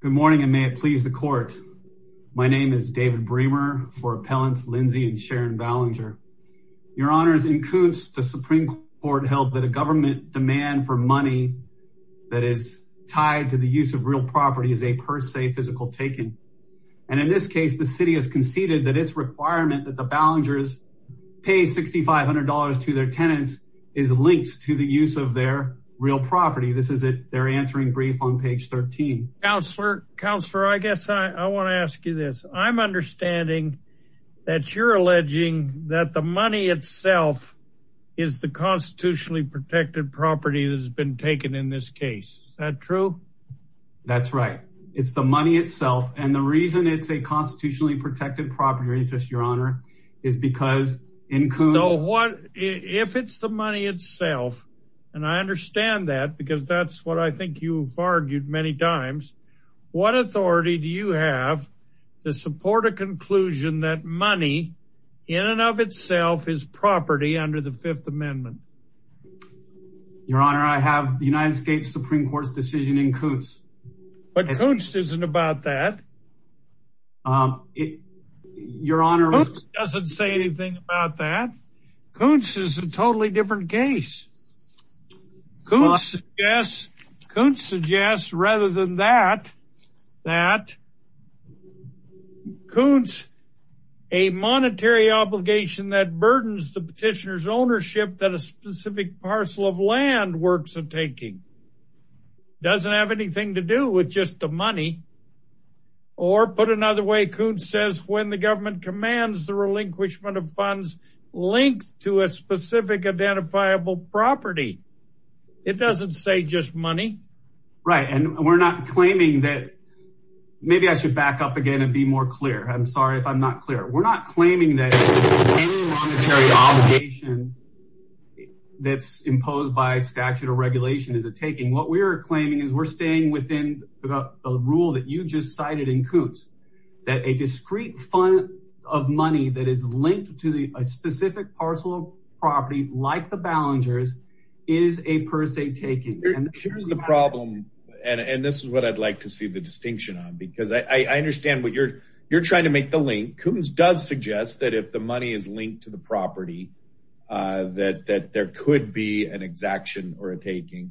Good morning and may it please the court. My name is David Bremer for Appellants Lindsey and Sharon Ballinger. Your Honors, in Koontz, the Supreme Court held that a government demand for money that is tied to the use of real property is a per se physical taken. And in this case, the city has conceded that it's requirement that the Ballingers pay $6,500 to their tenants is linked to the use of their real property. This is it. They're answering brief on page 13. Counselor, counselor, I guess I want to ask you this. I'm understanding that you're alleging that the money itself is the constitutionally protected property that has been taken in this case. Is that true? That's right. It's the money itself. And the reason it's a constitutionally protected property interest, Your Honor, is because in Koontz. So what if it's the money itself? And I understand that because that's what I think you've argued many times. What authority do you have to support a conclusion that money in and of itself is property under the Fifth Amendment? Your Honor, I have the United States Supreme Court's decision in Koontz. But Koontz isn't about that. Your Honor, Koontz doesn't Koontz suggests rather than that, that Koontz, a monetary obligation that burdens the petitioner's ownership that a specific parcel of land works of taking doesn't have anything to do with just the money. Or put another way, Koontz says when the government commands the relinquishment of funds linked to a specific identifiable property, it doesn't say just money. Right. And we're not claiming that. Maybe I should back up again and be more clear. I'm sorry if I'm not clear. We're not claiming that a monetary obligation that's imposed by statute or regulation is a taking. What we're claiming is we're staying within the rule that you just cited in Koontz, that a discrete fund of money that is linked to a specific parcel property like the Ballingers is a per se taking. Here's the problem. And this is what I'd like to see the distinction on, because I understand what you're you're trying to make the link. Koontz does suggest that if the money is linked to the property, that that there could be an exaction or a taking.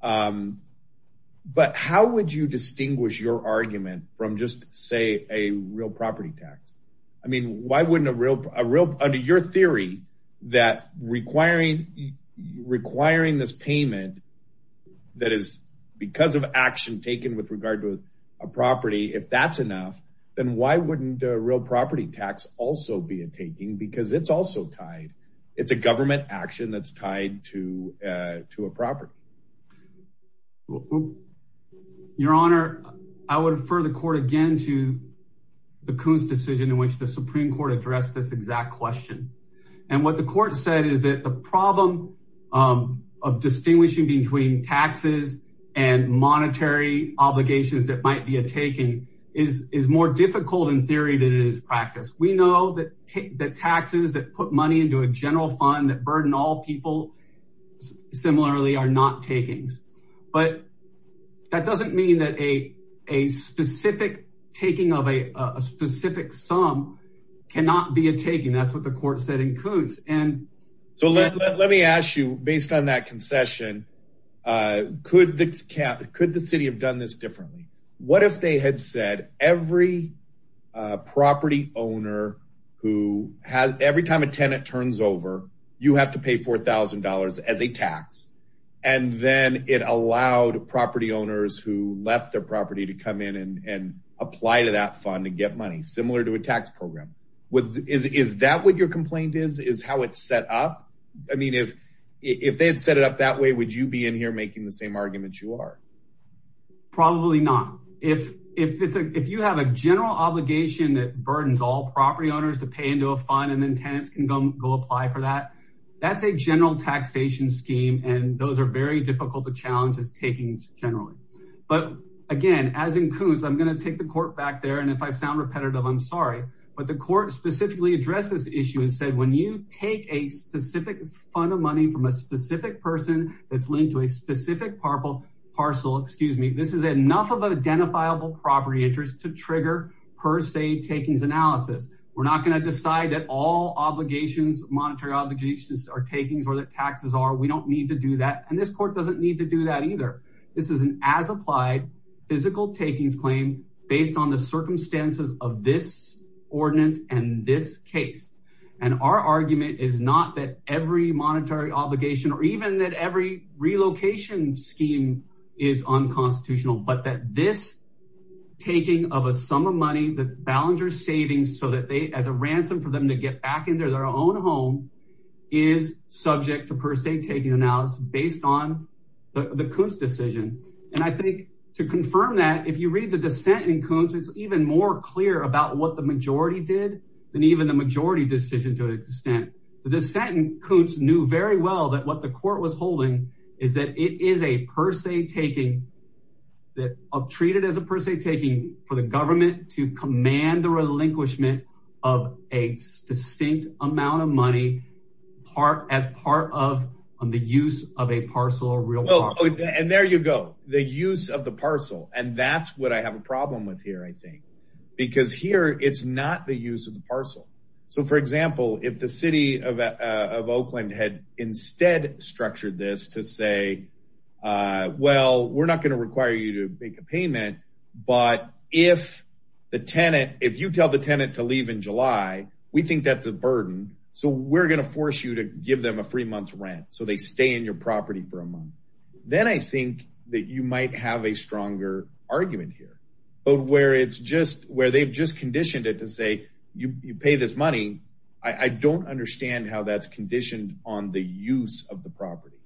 But how would you distinguish your argument from just, say, a real property tax? I mean, why wouldn't a real under your theory that requiring requiring this payment that is because of action taken with regard to a property, if that's enough, then why wouldn't a real property tax also be a taking? Because it's also tied. It's a government action that's tied to to a property. Your Honor, I would refer the court again to the Koontz decision in which the Supreme Court addressed this exact question. And what the court said is that the problem of distinguishing between taxes and monetary obligations that might be a taking is is more difficult in theory than it is practice. We know that that taxes that put money into a general fund that burden all people similarly are not takings. But that doesn't mean that a a specific taking of a specific sum cannot be a taking. That's what the court said in Koontz. And so let let me ask you, based on that concession, could the could the city have done this differently? What if they had said every property owner who has every time a tenant turns over, you have to pay four thousand dollars as a tax. And then it allowed property owners who left their property to come in and apply to that fund and get money similar to a tax program? Is that what your complaint is, is how it's set up? I mean, if if they had set it up that way, would you be in here making the same argument you are? Probably not. If if if you have a general obligation that burdens all property owners to pay into a fund and then tenants can go apply for that, that's a general taxation scheme. And those are very difficult to challenge as takings generally. But again, as in Koontz, I'm going to take the court back there. And if I sound repetitive, I'm sorry. But the court specifically addressed this issue and said, when you take a specific fund of money from a specific person that's linked to a specific parcel, excuse me, this is enough of an identifiable property interest to trigger per se takings analysis. We're not going to decide that all obligations, monetary obligations are takings or that taxes are. We don't need to do that. And this court doesn't need to do that either. This is an as applied physical takings claim based on the circumstances of this ordinance and this case. And our argument is not that every monetary obligation or even that every relocation scheme is unconstitutional, but that this taking of a sum of money, the Ballenger savings so that they as a ransom for them to get back into their own home is subject to per se taking analysis based on the Koontz decision. And I think to confirm that, if you read the dissent in Koontz, it's even more clear about what the majority did than even the majority decision to an extent. The dissent in Koontz knew very well that what the court was holding is that it is a per se taking that treated as a per se taking for the government to command the relinquishment of a distinct amount of money as part of the use of a parcel or real property. And there you go, the use of the parcel. And that's what I have a problem with here, I think, because here it's not the use of the parcel. So for example, if the city of Oakland had instead structured this to say, well, we're not going to require you to make a payment, but if the tenant, if you tell the tenant to leave in July, we think that's a burden. So we're going to force you to give them a free month's rent. So they stay in your property for a month. Where they've just conditioned it to say, you pay this money, I don't understand how that's conditioned on the use of the property.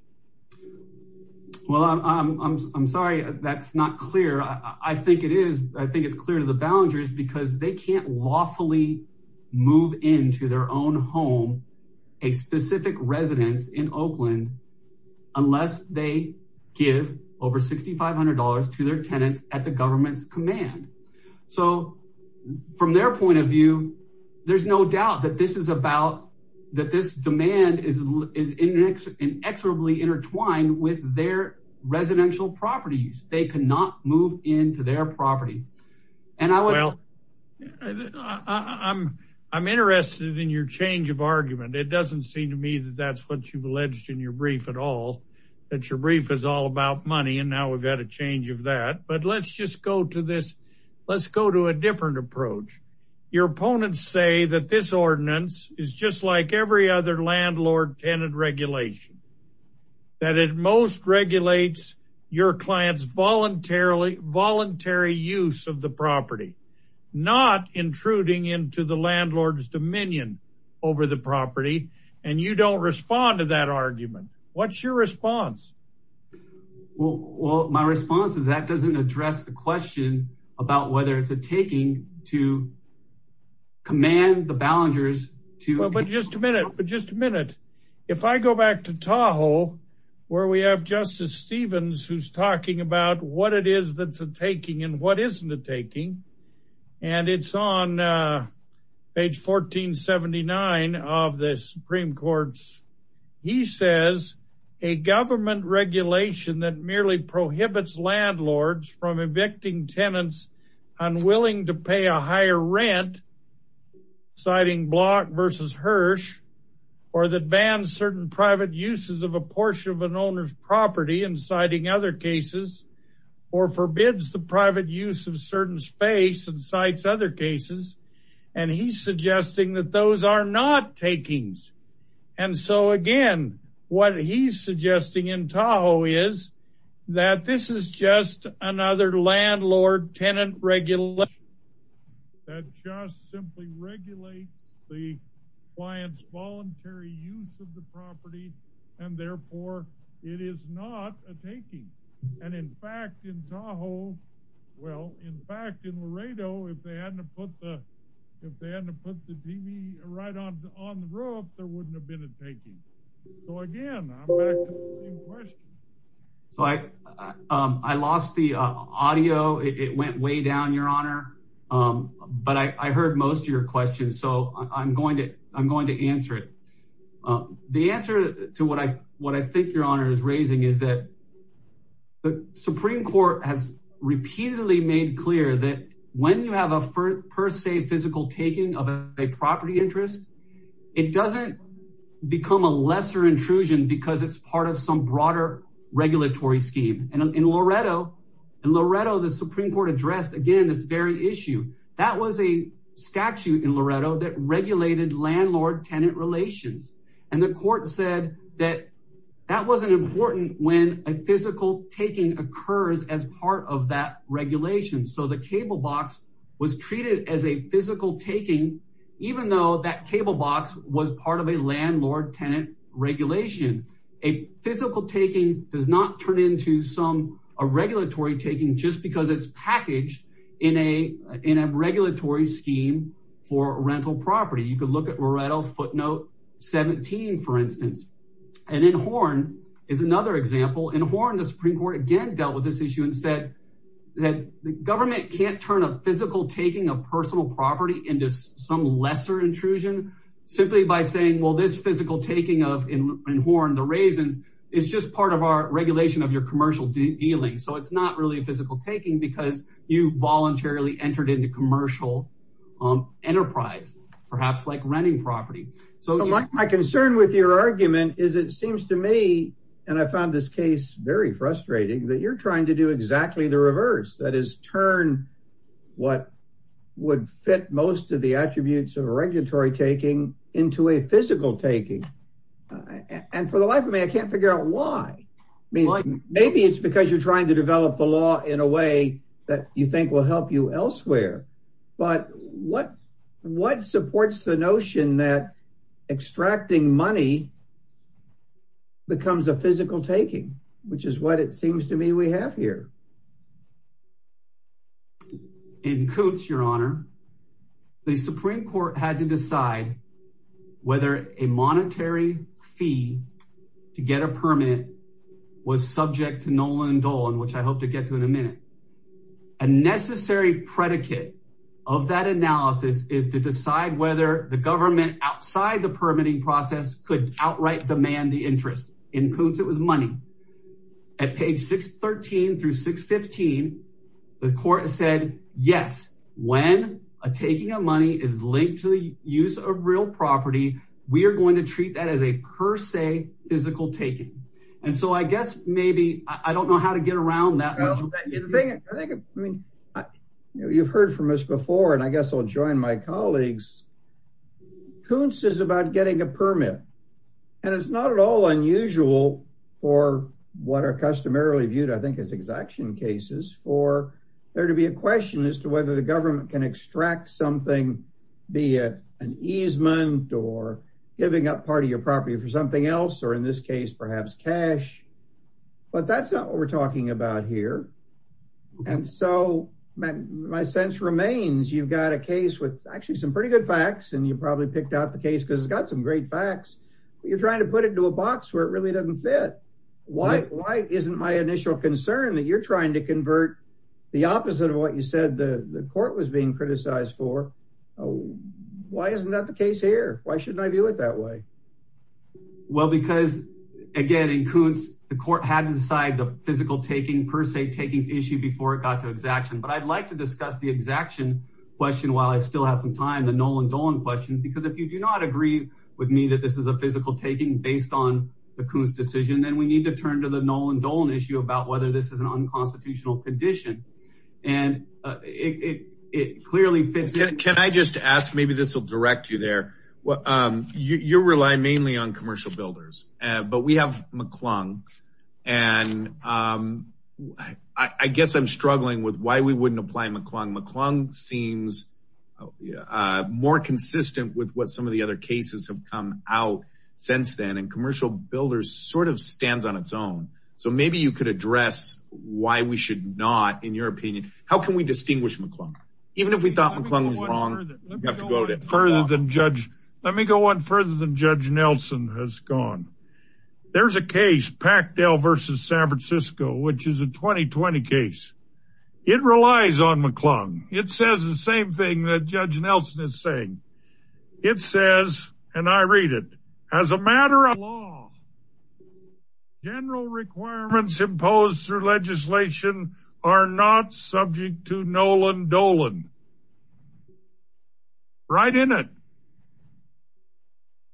Well, I'm sorry, that's not clear. I think it is, I think it's clear to the Ballengers because they can't lawfully move into their own home, a specific residence in Oakland, unless they give over $6,500 to their tenants at the government's demand. So from their point of view, there's no doubt that this is about, that this demand is inexorably intertwined with their residential properties. They cannot move into their property. Well, I'm interested in your change of argument. It doesn't seem to me that that's what you've alleged in your brief at all, that your brief is all about money. And now we've had a change of that, but let's just go to this. Let's go to a different approach. Your opponents say that this ordinance is just like every other landlord tenant regulation, that it most regulates your client's voluntary use of the property, not intruding into the landlord's dominion over the property. And you don't respond to that argument. What's your response? Well, my response is that doesn't address the question about whether it's a taking to command the Ballengers to... Well, but just a minute, but just a minute. If I go back to Tahoe, where we have Justice Stevens, who's talking about what it is that's a taking and what isn't a taking, and it's on page 1479 of the Supreme Court's, he says a government regulation that merely prohibits landlords from evicting tenants unwilling to pay a higher rent, citing Block versus Hirsch, or that bans certain private uses of a portion of an owner's property and citing other cases, or forbids the private use of certain space and cites other cases. And he's suggesting that those are not takings. And so again, what he's suggesting in Tahoe is that this is just another landlord tenant regulation that just simply regulates the client's voluntary use of the property, and therefore it is not a taking. And in fact, in Tahoe, well, in fact, in Laredo, if they hadn't have put the TV right on the roof, there wouldn't have been a taking. So again, I'm back to the same question. So I lost the audio. It went way down, Your Honor. But I heard most of your questions, so I'm going to answer it. The answer to what I think Your Honor is raising is that the Supreme Court has repeatedly made clear that when you have a per se physical taking of a property interest, it doesn't become a lesser intrusion because it's part of some broader regulatory scheme. And in Laredo, the Supreme Court addressed, again, this very issue. That was a statute in Laredo that regulated landlord-tenant relations. And the court said that that wasn't important when a physical taking occurs as part of that regulation. So the cable box was treated as a physical taking, even though that cable box was part of a landlord-tenant regulation. A physical taking does not turn into some a regulatory taking just because it's packaged in a regulatory scheme for rental property. You could look at Laredo footnote 17, for instance. And in Horne is another example. In Horne, the Supreme Court again dealt with this issue and said that the government can't turn a physical taking of personal property into some lesser intrusion simply by saying, well, this physical taking of, in Horne, the raisins is just part of our regulation of your commercial dealing. So it's not really a physical taking because you voluntarily entered into commercial enterprise, perhaps like renting property. My concern with your argument is it seems to me, and I found this case very frustrating, that you're trying to do exactly the reverse. That is turn what would fit most of the attributes of a regulatory taking into a physical taking. And for the life of me, I can't figure out why. Maybe it's because you're trying to develop the you think will help you elsewhere, but what, what supports the notion that extracting money becomes a physical taking, which is what it seems to me we have here. In Cootes, your honor, the Supreme Court had to decide whether a monetary fee to get a permit was subject to Nolan Dolan, which I hope to get to in a minute. A necessary predicate of that analysis is to decide whether the government outside the permitting process could outright demand the interest. In Cootes it was money. At page 613 through 615, the court said, yes, when a taking of money is linked to the use of real property, we are going to treat that as a per se physical taking. And so I guess maybe I don't know how to get around that. I mean, you've heard from us before, and I guess I'll join my colleagues. Cootes is about getting a permit, and it's not at all unusual for what are customarily viewed, I think, as exaction cases for there to be a question as to whether the government can extract something, be it an easement or giving up part of your property for something else, or in this case, perhaps cash. But that's not what we're talking about here. And so my sense remains, you've got a case with actually some pretty good facts, and you probably picked out the case because it's got some great facts, but you're trying to put it into a box where it really doesn't fit. Why isn't my initial concern that you're trying to convert the opposite of what you said the court was being criticized for? Why isn't that the case here? Why shouldn't I view it that way? Well, because again, in Cootes, the court had to decide the physical taking per se taking issue before it got to exaction. But I'd like to discuss the exaction question while I still have some time, the Nolan Dolan question, because if you do not agree with me that this is a physical taking based on the Cootes decision, then we need to turn to the Nolan Dolan issue about whether this is an unconstitutional condition. And it clearly fits in. Can I just ask, maybe this will direct you there. You rely mainly on commercial builders, but we have McClung. And I guess I'm struggling with why we wouldn't apply McClung. McClung seems more consistent with what some of the other cases have come out since then, commercial builders sort of stands on its own. So maybe you could address why we should not, in your opinion, how can we distinguish McClung? Even if we thought McClung was wrong. Let me go one further than Judge Nelson has gone. There's a case, Packdale versus San Francisco, which is a 2020 case. It relies on McClung. It says the same thing that Judge Nelson is saying. It says, and I read it, as a matter of law, general requirements imposed through legislation are not subject to Nolan Dolan. Right in it.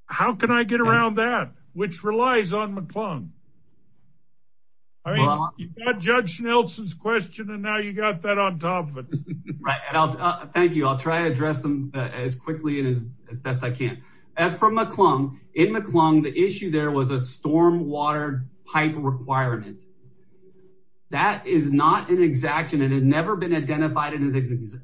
How can I get around that? Which relies on McClung. I mean, you've got Judge Nelson's question and now you got that on top of it. Thank you. I'll try to address them as quickly and as best I can. As for McClung, in McClung, the issue there was a storm water pipe requirement. That is not an exaction. It had never been identified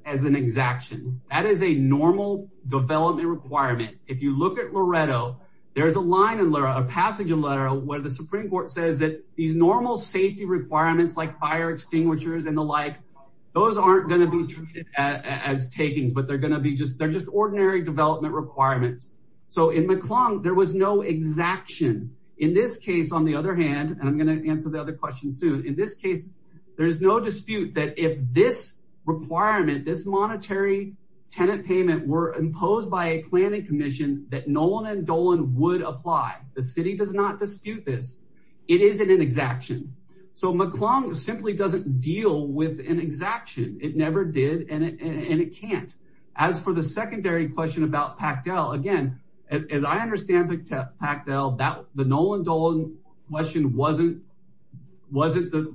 as an exaction. That is a normal development requirement. If you look at Loretto, there's a line, a passage in Loretto where the Supreme Court says that these normal safety requirements like fire extinguishers and the like, those aren't going to be treated as takings, but they're going to be just ordinary development requirements. So in McClung, there was no exaction. In this case, on the other hand, and I'm going to answer the other question soon. In this case, there is no dispute that if this requirement, this monetary tenant payment were imposed by a planning commission that Nolan and Dolan would apply. The city does not dispute this. It isn't an exaction. So McClung simply doesn't deal with an exaction. It never did and it can't. As for the secondary question about Pactel, again, as I understand Pactel, the Nolan-Dolan question wasn't,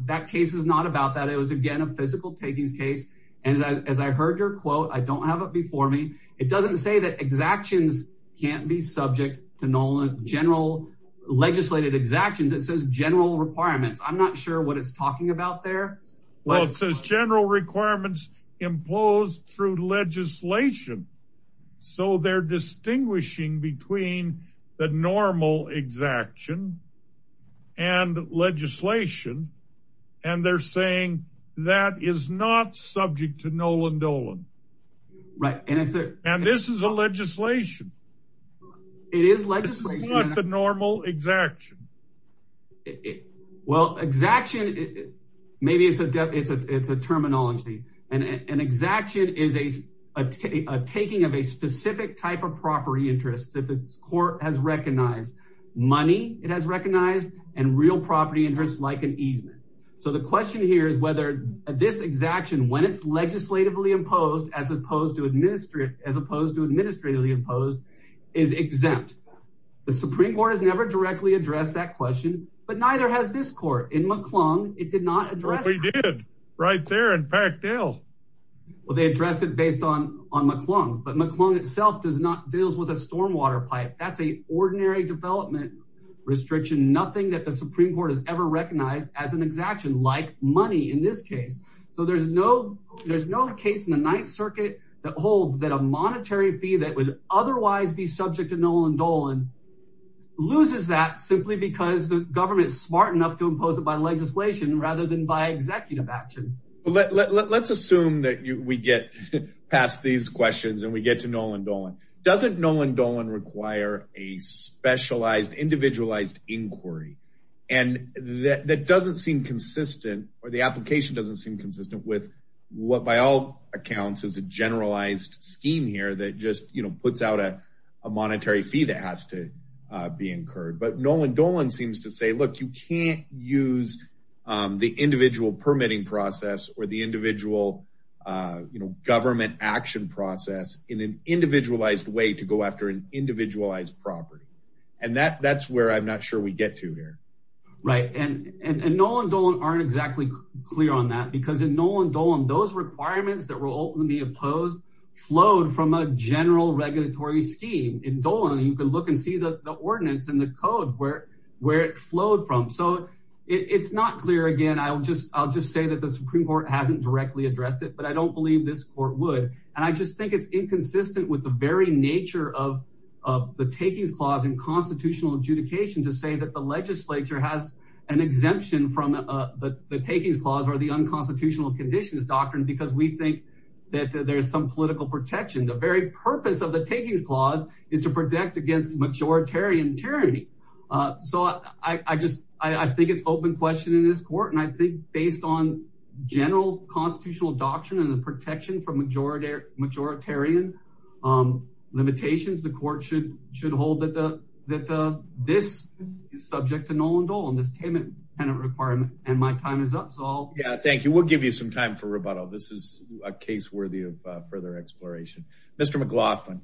that case is not about that. It was again, a physical takings case. And as I heard your quote, I don't have it before me. It doesn't say that exactions can't be subject to general legislated exactions. It says general requirements. I'm not sure what it's talking about there. Well, it says general requirements imposed through legislation. So they're distinguishing between the normal exaction and legislation. And they're saying that is not subject to Nolan-Dolan. Right. And this is a legislation. It is legislation. It's not the normal exaction. Well, exaction, maybe it's a terminology. An exaction is a taking of a specific type of property interest that the court has recognized, money it has recognized and real property interest like an easement. So the question here is whether this exaction, when it's legislatively imposed, as opposed to administrative, as opposed to administratively imposed, is exempt. The Supreme Court has never directly addressed that question, but neither has this court in McClung. It did not address it. Right there in Pactel. Well, they addressed it based on, on McClung, but McClung itself does not, deals with a stormwater pipe. That's a ordinary development restriction. Nothing that the Supreme Court has ever recognized as an exaction like money in this case. So there's no, there's no case in the Ninth Circuit that holds that a monetary fee that would otherwise be subject to Nolan-Dolan loses that simply because the government is smart enough to impose it by legislation rather than by executive action. Let's assume that we get past these questions and we get to Nolan-Dolan. Doesn't Nolan-Dolan require a specialized individualized inquiry? And that doesn't seem consistent or the application doesn't seem consistent with what, by all accounts, is a generalized scheme here that just, you know, puts out a monetary fee that has to be incurred. But Nolan-Dolan seems to say, look, you can't use the individual permitting process or the individual, you know, government action process in an individualized way to go after an individualized property. And that, that's where I'm not sure we get to here. Right. And, and Nolan-Dolan aren't exactly clear on that because in Nolan-Dolan, those requirements that were ultimately imposed flowed from a general regulatory scheme. In Dolan, you can look and see the ordinance and the code where, where it flowed from. So it's not clear again. I'll just, I'll just say that the Supreme Court hasn't directly addressed it, but I don't believe this court would. And I just think it's nature of the takings clause in constitutional adjudication to say that the legislature has an exemption from the takings clause or the unconstitutional conditions doctrine, because we think that there's some political protection. The very purpose of the takings clause is to protect against majoritarian tyranny. So I just, I think it's open question in this court. And I think on general constitutional doctrine and the protection from majority, majoritarian limitations, the court should, should hold that the, that the, this is subject to Nolan-Dolan, this payment tenant requirement and my time is up. So I'll. Yeah, thank you. We'll give you some time for rebuttal. This is a case worthy of further exploration. Mr. McLaughlin.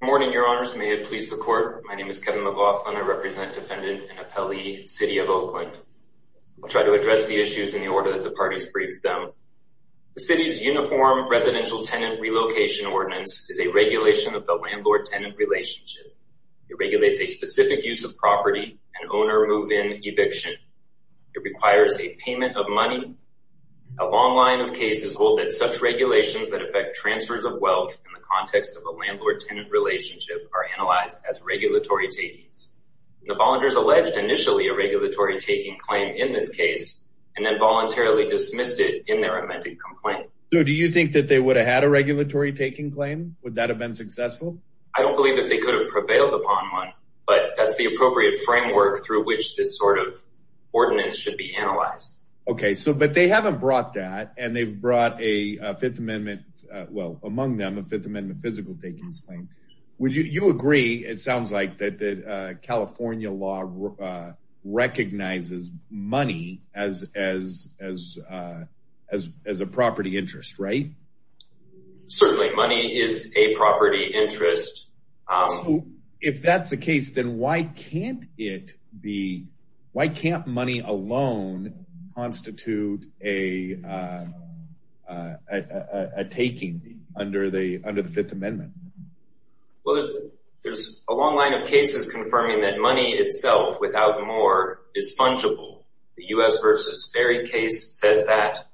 Good morning, your honors. May it please the court. My name is Kevin McLaughlin. I represent defendant and appellee city of Oakland. I'll try to address the issues in the order that the parties briefed them. The city's uniform residential tenant relocation ordinance is a regulation of the landlord tenant relationship. It regulates a specific use of property and owner move in eviction. It requires a payment of money. A long line of cases hold that such regulations that affect transfers of wealth in the context of a landlord tenant relationship are analyzed as regulatory takings. The volunteers alleged initially a regulatory taking claim in this case and then voluntarily dismissed it in their amended complaint. So do you think that they would have had a regulatory taking claim? Would that have been successful? I don't believe that they could have prevailed upon one, but that's the appropriate framework through which this sort of ordinance should be analyzed. Okay. So, but they haven't brought that and they've brought a fifth amendment, well among them, a fifth amendment physical takings claim. Would you agree, it sounds like, that California law recognizes money as a property interest, right? Certainly money is a property interest. So if that's the case, then why can't it be, why can't money alone constitute a taking under the fifth amendment? Well, there's a long line of cases confirming that money itself without more is fungible. The U.S. versus Ferry case says that.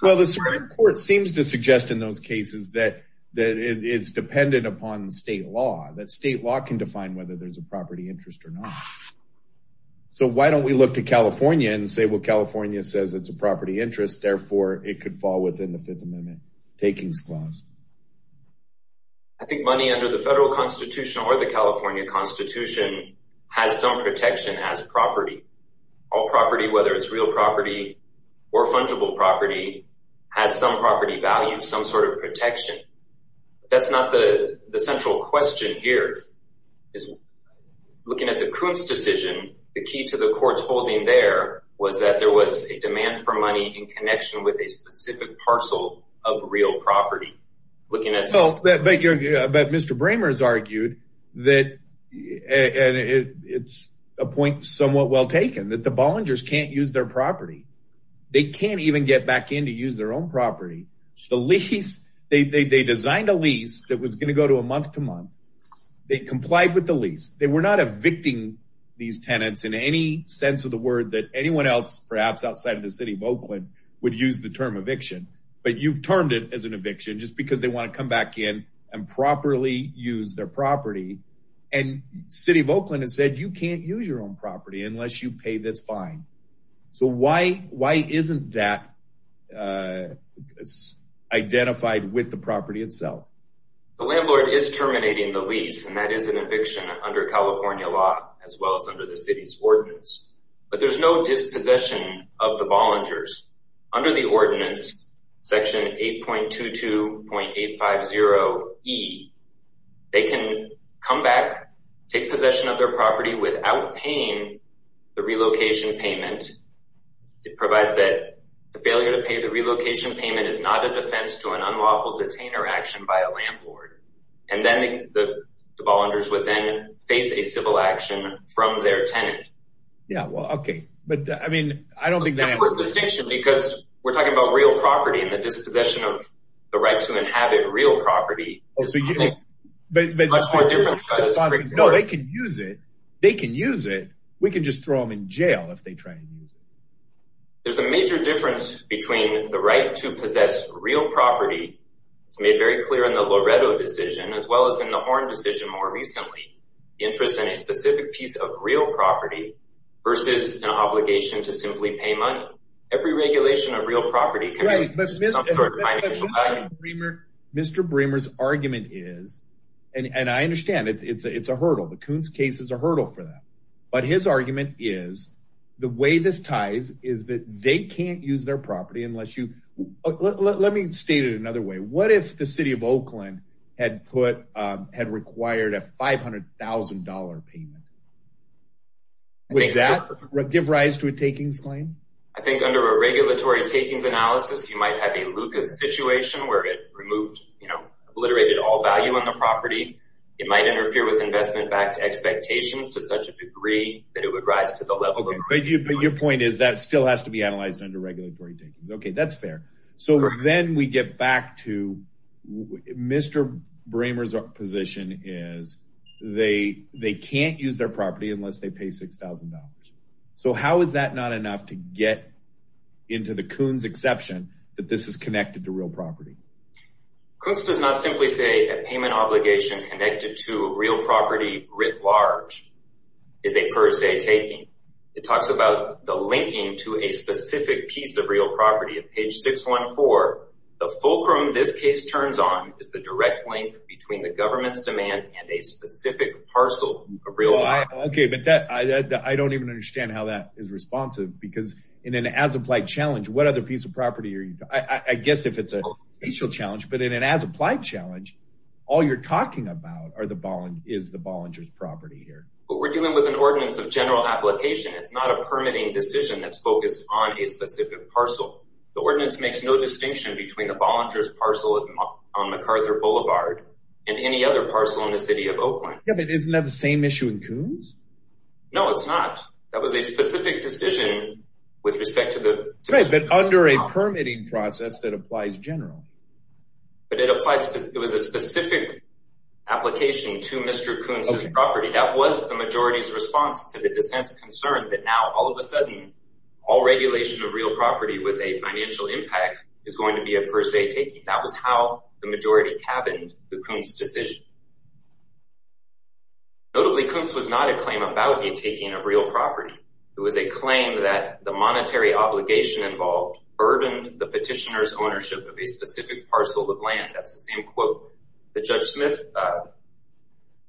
Well, the Supreme Court seems to suggest in those cases that it's dependent upon the state law, that state law can define whether there's a property interest or not. So why don't we look to California and say, well, California says it's a property interest, therefore it could fall within the fifth amendment takings clause. I think money under the federal constitution or the California constitution has some protection as property. All property, whether it's real property or fungible property, has some property value, some sort of protection. That's not the central question here. Looking at the Kuntz decision, the key to the court's holding there was that there was a demand for money in connection with a specific parcel of real property. But Mr. Brammer's argued that, and it's a point somewhat well taken, that the Bollingers can't use their property. They can't even get back in to use their own property. They designed a lease that was going to go to a month-to-month. They complied with the lease. They were not evicting these tenants in any sense of the word that anyone else, perhaps outside of the city of Oakland, would use the term eviction. But you've termed it as an eviction just because they want to come back in and properly use their property. And city of Oakland has said you can't use your own property unless you pay this fine. So why isn't that identified with the property itself? The landlord is terminating the lease, and that is an eviction under California law, as well as under the city's ordinance. But there's no dispossession of the Bollingers. Under the ordinance, section 8.22.850E, they can come back, take possession of their property without paying the relocation payment. It provides that the failure to pay the relocation payment is not an offense to an unlawful detainer action by a landlord. And then the Bollingers would then face a civil action from their tenant. Yeah, well, okay. But I mean, I don't think that answers the question. Because we're talking about real property and the dispossession of the right to inhabit real property. No, they can use it. They can use it. We can just throw them in jail if they try and use it. There's a major difference between the right to possess real property. It's made very clear in the Loretto decision, as well as in the Horn decision more recently. Interest in a specific piece of real property versus an obligation to simply pay money. Every regulation of real property. Mr. Bremer's argument is, and I understand it's a hurdle. The Coons case is a hurdle for them. But his argument is, the way this ties is that they can't use their property unless you... Let me state it another way. What if the city of Oakland had required a $500,000 payment? Would that give rise to a takings claim? I think under a regulatory takings analysis, you might have a Lucas situation where it removed, obliterated all value on the property. It might interfere with investment backed expectations to such a degree that it would rise to the level of... But your point is that still has to be analyzed under regulatory takings. Okay, that's fair. So then we get back to Mr. Bremer's position is they can't use their property unless they pay $6,000. So how is that not enough to get into the Coons exception that this is connected to real property? Coons does not simply say a payment obligation connected to real property writ large is a per se taking. It talks about the linking to a specific piece of real property. At page 614, the fulcrum this case turns on is the direct link between the government's demand and a specific parcel of real property. Okay, but I don't even understand how that is responsive because in an as-applied challenge, what other piece of property are you talking about? I guess if it's a potential challenge, but in an as-applied challenge, all you're talking about is the Bollinger's property here. Well, we're dealing with an ordinance of general application. It's not a permitting decision that's focused on a specific parcel. The ordinance makes no distinction between the Bollinger's parcel on MacArthur Boulevard and any other parcel in the city of Oakland. Yeah, but isn't that the same issue in Coons? No, it's not. That was a specific decision with respect to the... Right, but under a permitting process that applies general. But it applies, it was a specific application to Mr. Coons' property. That was the majority's response to the dissent's concern that now all of a sudden all regulation of real property with a per se taking, that was how the majority cabined the Coons' decision. Notably, Coons was not a claim about the taking of real property. It was a claim that the monetary obligation involved burdened the petitioner's ownership of a specific parcel of land. That's the same quote that Judge Smith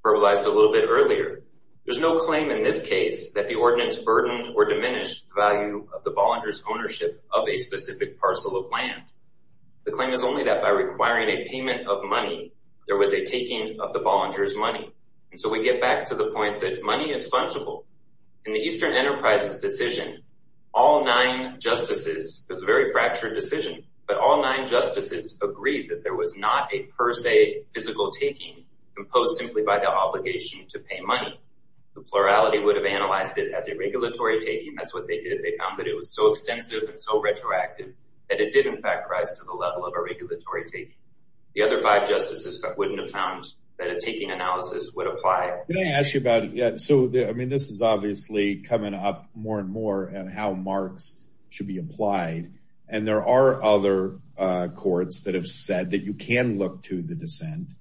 verbalized a little bit earlier. There's no claim in this case that the ordinance burdened or diminished the value of the Bollinger's ownership of a parcel. The claim is only that by requiring a payment of money, there was a taking of the Bollinger's money. And so we get back to the point that money is fungible. In the Eastern Enterprise's decision, all nine justices, it was a very fractured decision, but all nine justices agreed that there was not a per se physical taking imposed simply by the obligation to pay money. The plurality would have analyzed it as a regulatory taking. That's what they did. They found that it was so extensive and so retroactive that it did in fact rise to the level of a regulatory taking. The other five justices wouldn't have found that a taking analysis would apply. Can I ask you about it? Yeah. So, I mean, this is obviously coming up more and more and how marks should be applied. And there are other courts that have said that you can look to the dissent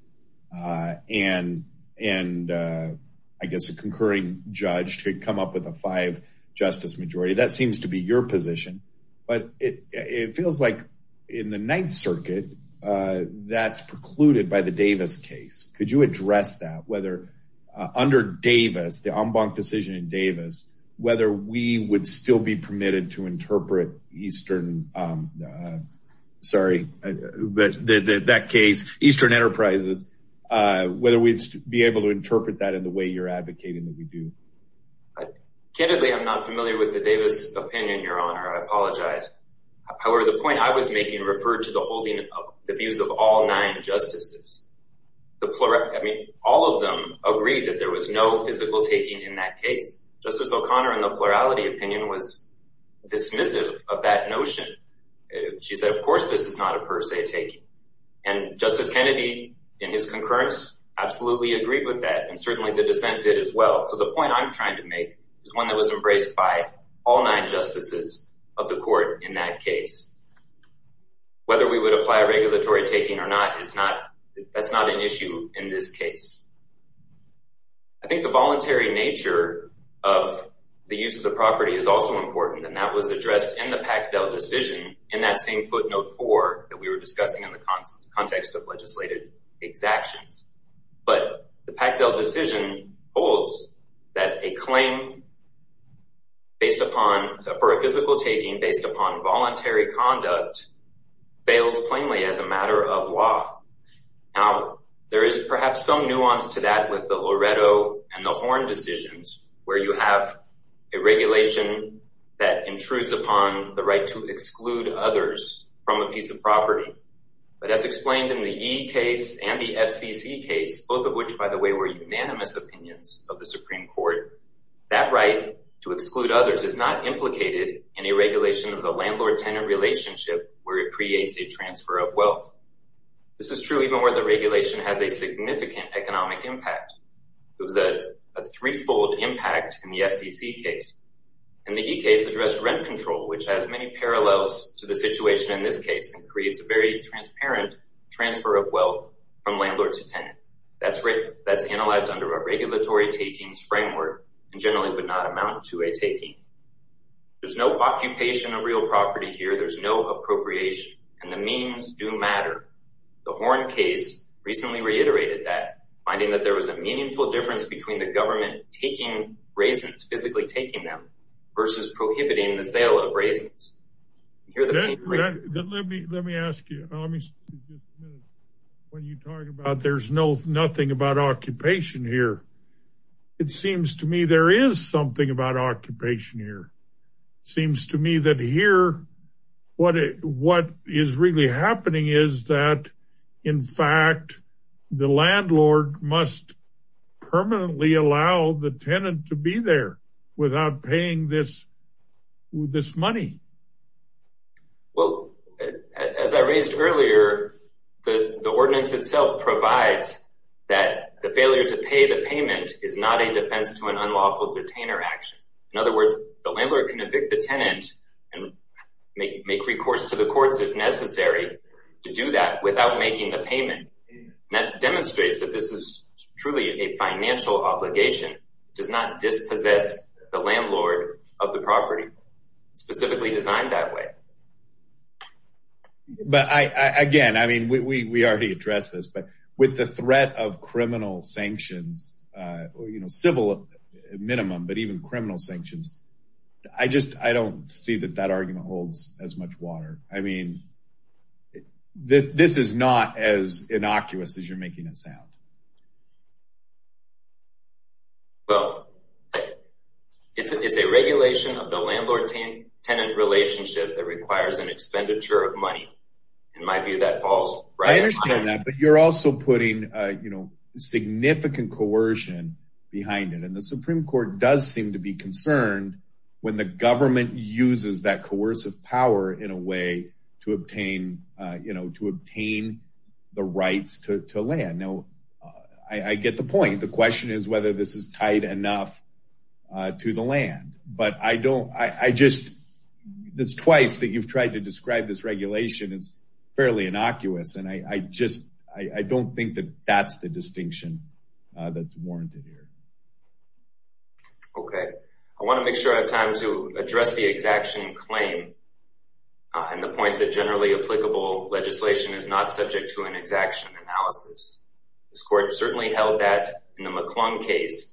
and I guess a concurring judge to come up with a five justice majority. That seems to be your position, but it feels like in the Ninth Circuit, that's precluded by the Davis case. Could you address that? Whether under Davis, the en banc decision in Davis, whether we would still be permitted to interpret Eastern, sorry, but that case, Eastern Enterprises, whether we'd be able to interpret that in the way you're advocating that we do. Candidly, I'm not familiar with the opinion, Your Honor. I apologize. However, the point I was making referred to the holding of the views of all nine justices. I mean, all of them agreed that there was no physical taking in that case. Justice O'Connor in the plurality opinion was dismissive of that notion. She said, of course, this is not a per se taking. And Justice Kennedy in his concurrence absolutely agreed with that. And certainly the dissent did as well. So the point I'm trying to make is one that was embraced by all nine justices of the court in that case. Whether we would apply regulatory taking or not, it's not, that's not an issue in this case. I think the voluntary nature of the use of the property is also important, and that was addressed in the Pactel decision in that same footnote four that we were discussing in the context of legislative exactions. But the Pactel decision holds that a claim based upon, for a physical taking based upon voluntary conduct fails plainly as a matter of law. Now, there is perhaps some nuance to that with the Loreto and the Horn decisions, where you have a regulation that intrudes upon the right to exclude others from a piece of property. But as explained in the Yee case and the FCC case, both of which, by the way, were unanimous opinions of the Supreme Court, that right to exclude others is not implicated in a regulation of the landlord-tenant relationship where it creates a transfer of wealth. This is true even where the regulation has a significant economic impact. It was a threefold impact in the FCC case. And the Yee case addressed rent control, which has many parallels to the situation in this case and creates a very transparent transfer of wealth from landlord to tenant that's analyzed under a regulatory takings framework and generally would not amount to a taking. There's no occupation of real property here. There's no appropriation. And the means do matter. The Horn case recently reiterated that, finding that there was a meaningful difference between the government taking raisins, physically taking them, versus prohibiting the sale of raisins. Let me ask you, when you talk about there's nothing about occupation here, it seems to me there is something about occupation here. Seems to me that here, what is really happening is that, in fact, the landlord must permanently allow the tenant to be there without paying this money. Well, as I raised earlier, the ordinance itself provides that the failure to pay the payment is not a defense to an unlawful detainer action. In other words, the landlord can evict the tenant and make recourse to the courts if necessary to do that without making the payment. That demonstrates that this is truly a financial obligation. It does not dispossess the landlord of the property specifically designed that way. But again, I mean, we already addressed this, but with the threat of criminal sanctions, civil minimum, but even criminal sanctions, I just don't see that that argument holds as much water. I mean, this is not as innocuous as you're making it sound. Well, it's a regulation of the landlord-tenant relationship that requires an expenditure of money. In my view, that falls right in line. I understand that, but you're also putting significant coercion behind it, and the Supreme Court does seem to be concerned when the government uses that coercive power in a way to obtain the rights to land. Now, I get the point. The question is whether this is tight enough to the land, but it's twice that you've tried to describe this regulation as fairly innocuous, and I don't think that that's the distinction that's warranted here. Okay. I want to make sure I have time to address the exaction claim and the point that generally applicable legislation is not subject to an exaction analysis. This court certainly held that in the McClung case.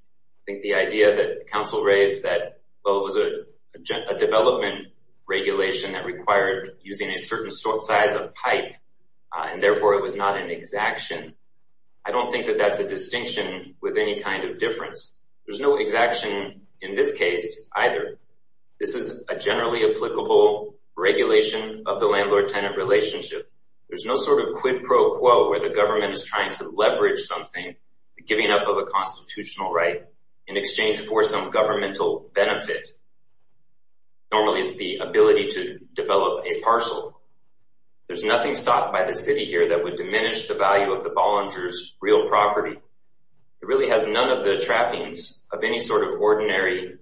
I think the idea that counsel raised that, well, it was a development regulation that required using a certain size of pipe, and therefore it was not an exaction. I don't think that that's a distinction with any kind of difference. There's no exaction in this case either. This is a generally applicable regulation of the landlord-tenant relationship. There's no sort of quid pro quo where the government is trying to leverage something, giving up of a constitutional right in exchange for some governmental benefit. Normally, it's the ability to develop a parcel. There's nothing sought by the city here that would diminish the value of the Bollinger's real property. It really has none of the trappings of any sort of ordinary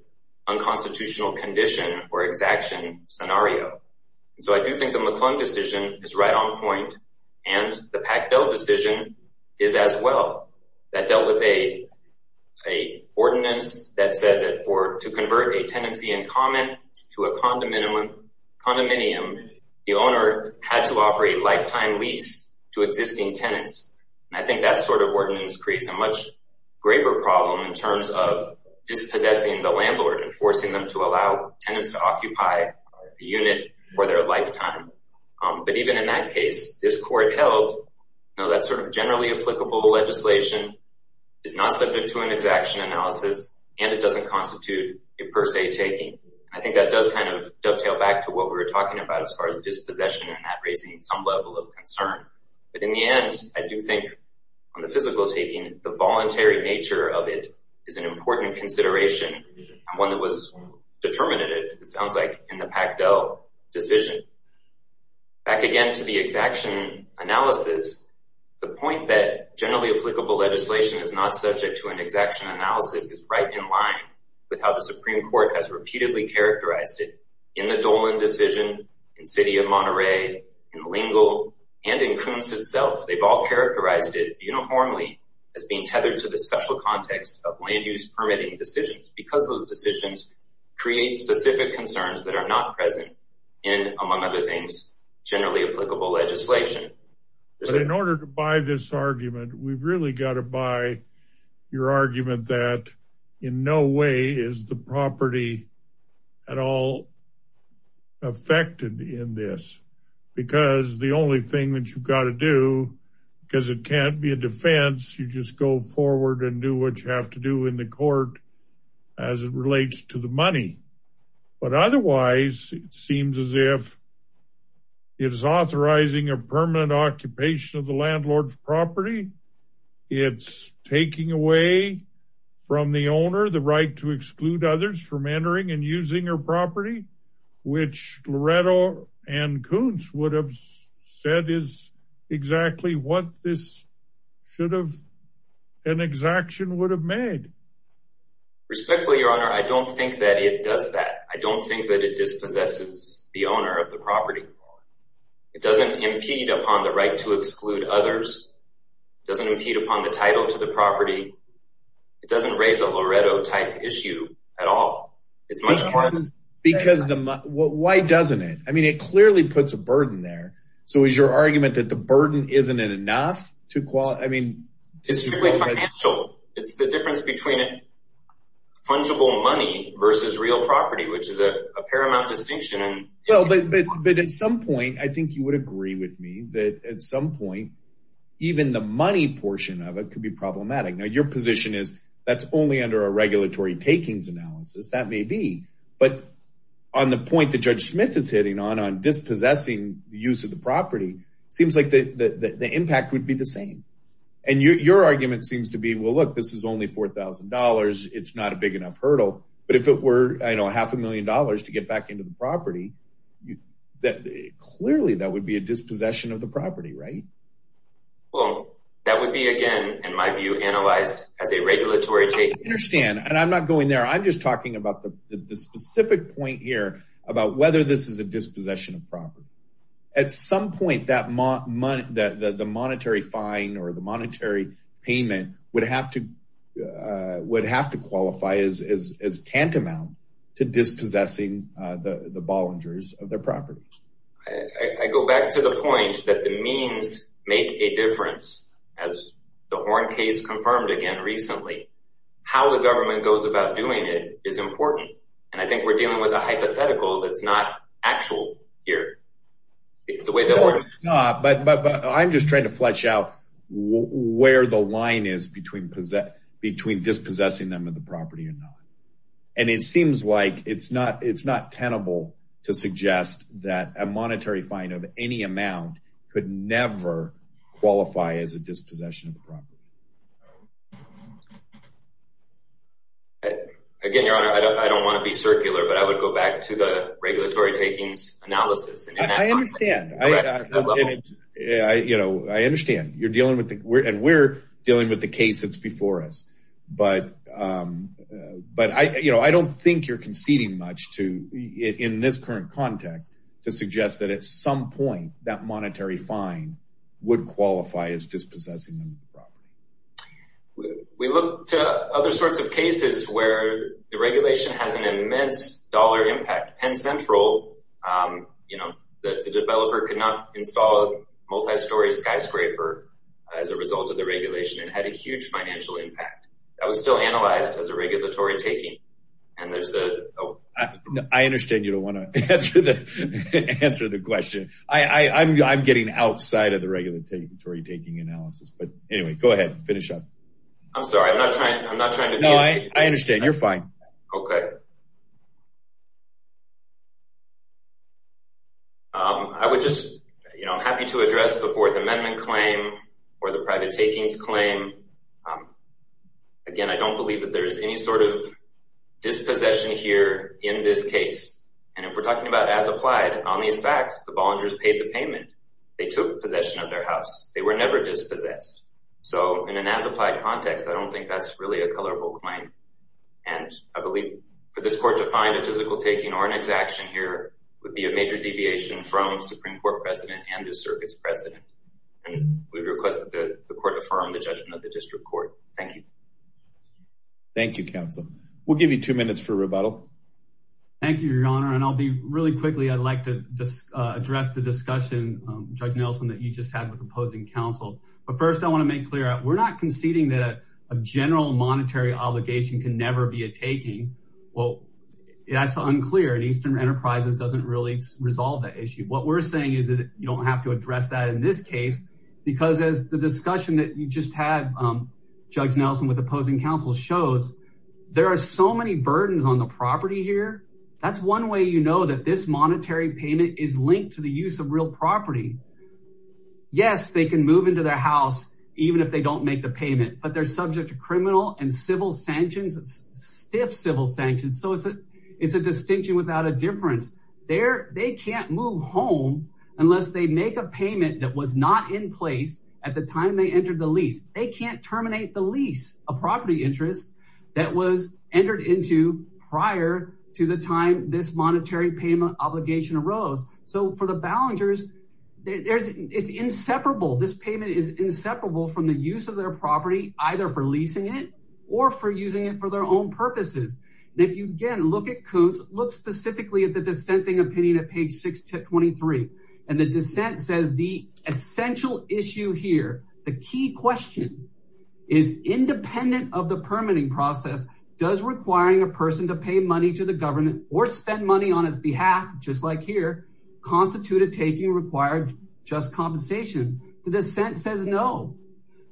unconstitutional condition or exaction scenario. I do think the McClung decision is right on point, and the Pactel decision is as well. That dealt with a ordinance that said that to convert a tenancy in common to a condominium, the owner had to offer a lifetime lease to existing tenants. I think that sort of ordinance creates a much of dispossessing the landlord and forcing them to allow tenants to occupy a unit for their lifetime. But even in that case, this court held that sort of generally applicable legislation is not subject to an exaction analysis, and it doesn't constitute a per se taking. I think that does kind of dovetail back to what we were talking about as far as dispossession and that raising some level of concern. But in the end, I do think on the physical taking, the voluntary nature of it is an important consideration and one that was determinative, it sounds like, in the Pactel decision. Back again to the exaction analysis, the point that generally applicable legislation is not subject to an exaction analysis is right in line with how the Supreme Court has repeatedly characterized it in the Dolan decision, in City of Monterey, in Lingle, and in Coons itself. They've characterized it uniformly as being tethered to the special context of land use permitting decisions, because those decisions create specific concerns that are not present in, among other things, generally applicable legislation. In order to buy this argument, we've really got to buy your argument that in no way is the property at all affected in this, because the only thing that you've got to do, because it can't be a defense, you just go forward and do what you have to do in the court as it relates to the money. But otherwise, it seems as if it is authorizing a permanent occupation of the landlord's property. It's taking away from the owner the right to exclude others from entering and using your would have said is exactly what this should have an exaction would have made. Respectfully, Your Honor, I don't think that it does that. I don't think that it dispossesses the owner of the property. It doesn't impede upon the right to exclude others. It doesn't impede upon the title to the property. It doesn't raise a Loretto type issue at all. It's much more because the why doesn't it? I mean, it clearly puts a burden there. So is your argument that the burden isn't enough to qualify? I mean, it's the difference between fungible money versus real property, which is a paramount distinction. But at some point, I think you would agree with me that at some point, even the money portion of it could be problematic. Now your position is that's only under a regulatory takings analysis. That may be. But on the point that Judge Smith is hitting on, on dispossessing the use of the property, it seems like the impact would be the same. And your argument seems to be, well, look, this is only $4,000. It's not a big enough hurdle. But if it were, I know, half a million dollars to get back into the property, that clearly that would be a dispossession of the property, right? Well, that would be, again, in my view, analyzed as a regulatory take. Understand, and I'm not going there. I'm just talking about the specific point here about whether this is a dispossession of property. At some point, the monetary fine or the monetary payment would have to qualify as tantamount to dispossessing the Bollingers of their property. I go back to the point that the means make a difference. As the Horn case confirmed again recently, how the government goes about doing it is important. And I think we're dealing with a hypothetical that's not actual here. The way that works. No, but I'm just trying to flesh out where the line is between dispossessing them of the property or not. And it seems like it's not tenable to suggest that a monetary fine of any amount could never qualify as a dispossession of the property. Again, your honor, I don't want to be circular, but I would go back to the regulatory takings analysis. I understand. I understand you're dealing with and we're dealing with the case that's before us. But but I don't think you're conceding much to in this current context to suggest that at some point that monetary fine would qualify as dispossessing the property. We look to other sorts of cases where the regulation has an immense dollar impact. Penn Central, you know, the developer could not install a multi-story skyscraper as a result of the regulation and had a huge financial impact. That was still analyzed as a regulatory taking. And there's a... I understand you don't want to answer the question. I'm getting outside of the regulatory taking analysis. But anyway, go ahead. Finish up. I'm sorry. I'm not trying. I'm not trying to... No, I understand. You're fine. Okay. I would just, you know, I'm happy to address the Fourth Amendment claim or the private takings claim. Again, I don't believe that there's any sort of dispossession here in this case. And if we're talking about as applied on these facts, the Bollingers paid the payment. They took possession of their house. They were never dispossessed. So in an as applied context, I don't think that's really a colorable claim. And I believe for this court to find a physical taking or an exaction here would be a major deviation from Supreme Court precedent and the circuit's precedent. And we've requested that the court affirm the judgment of the district court. Thank you. Thank you, Counselor. We'll give you two minutes for rebuttal. Thank you, Your Honor. And I'll be really quickly. I'd like to address the discussion, Judge Nelson, that you just had with opposing counsel. But first I want to make clear, we're not conceding that a general monetary obligation can never be a taking. Well, that's unclear and Eastern Enterprises doesn't really resolve that issue. What we're saying is that you don't have to address that in this case because as the discussion that you just had, Judge Nelson, with opposing counsel shows, there are so many burdens on the property here. That's one way you know that this monetary payment is linked to the use of real property. Yes, they can move into their house even if they don't make the payment, but they're subject to criminal and civil sanctions, stiff civil sanctions. So it's a distinction without a difference. They can't move home unless they make a payment that was not in place at the time they terminate the lease, a property interest that was entered into prior to the time this monetary payment obligation arose. So for the Ballengers, it's inseparable. This payment is inseparable from the use of their property, either for leasing it or for using it for their own purposes. And if you again look at Koontz, look specifically at the dissenting opinion at page 623. And the dissent says the essential issue here, the key question is independent of the permitting process. Does requiring a person to pay money to the government or spend money on his behalf, just like here, constitute a taking required just compensation? The dissent says no.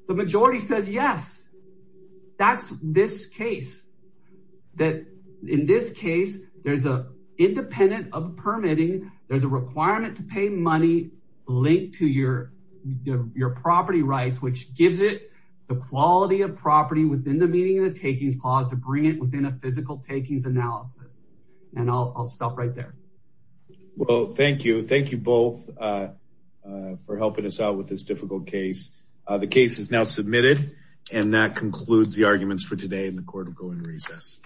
The majority says yes. That's this case. That in this case, there's a independent of permitting. There's a requirement to pay money linked to your property rights, which gives it the quality of property within the meaning of the takings clause to bring it within a physical takings analysis. And I'll stop right there. Well, thank you. Thank you both for helping us out with this difficult case. The case is now submitted. And that concludes the arguments for today in the court of going to recess.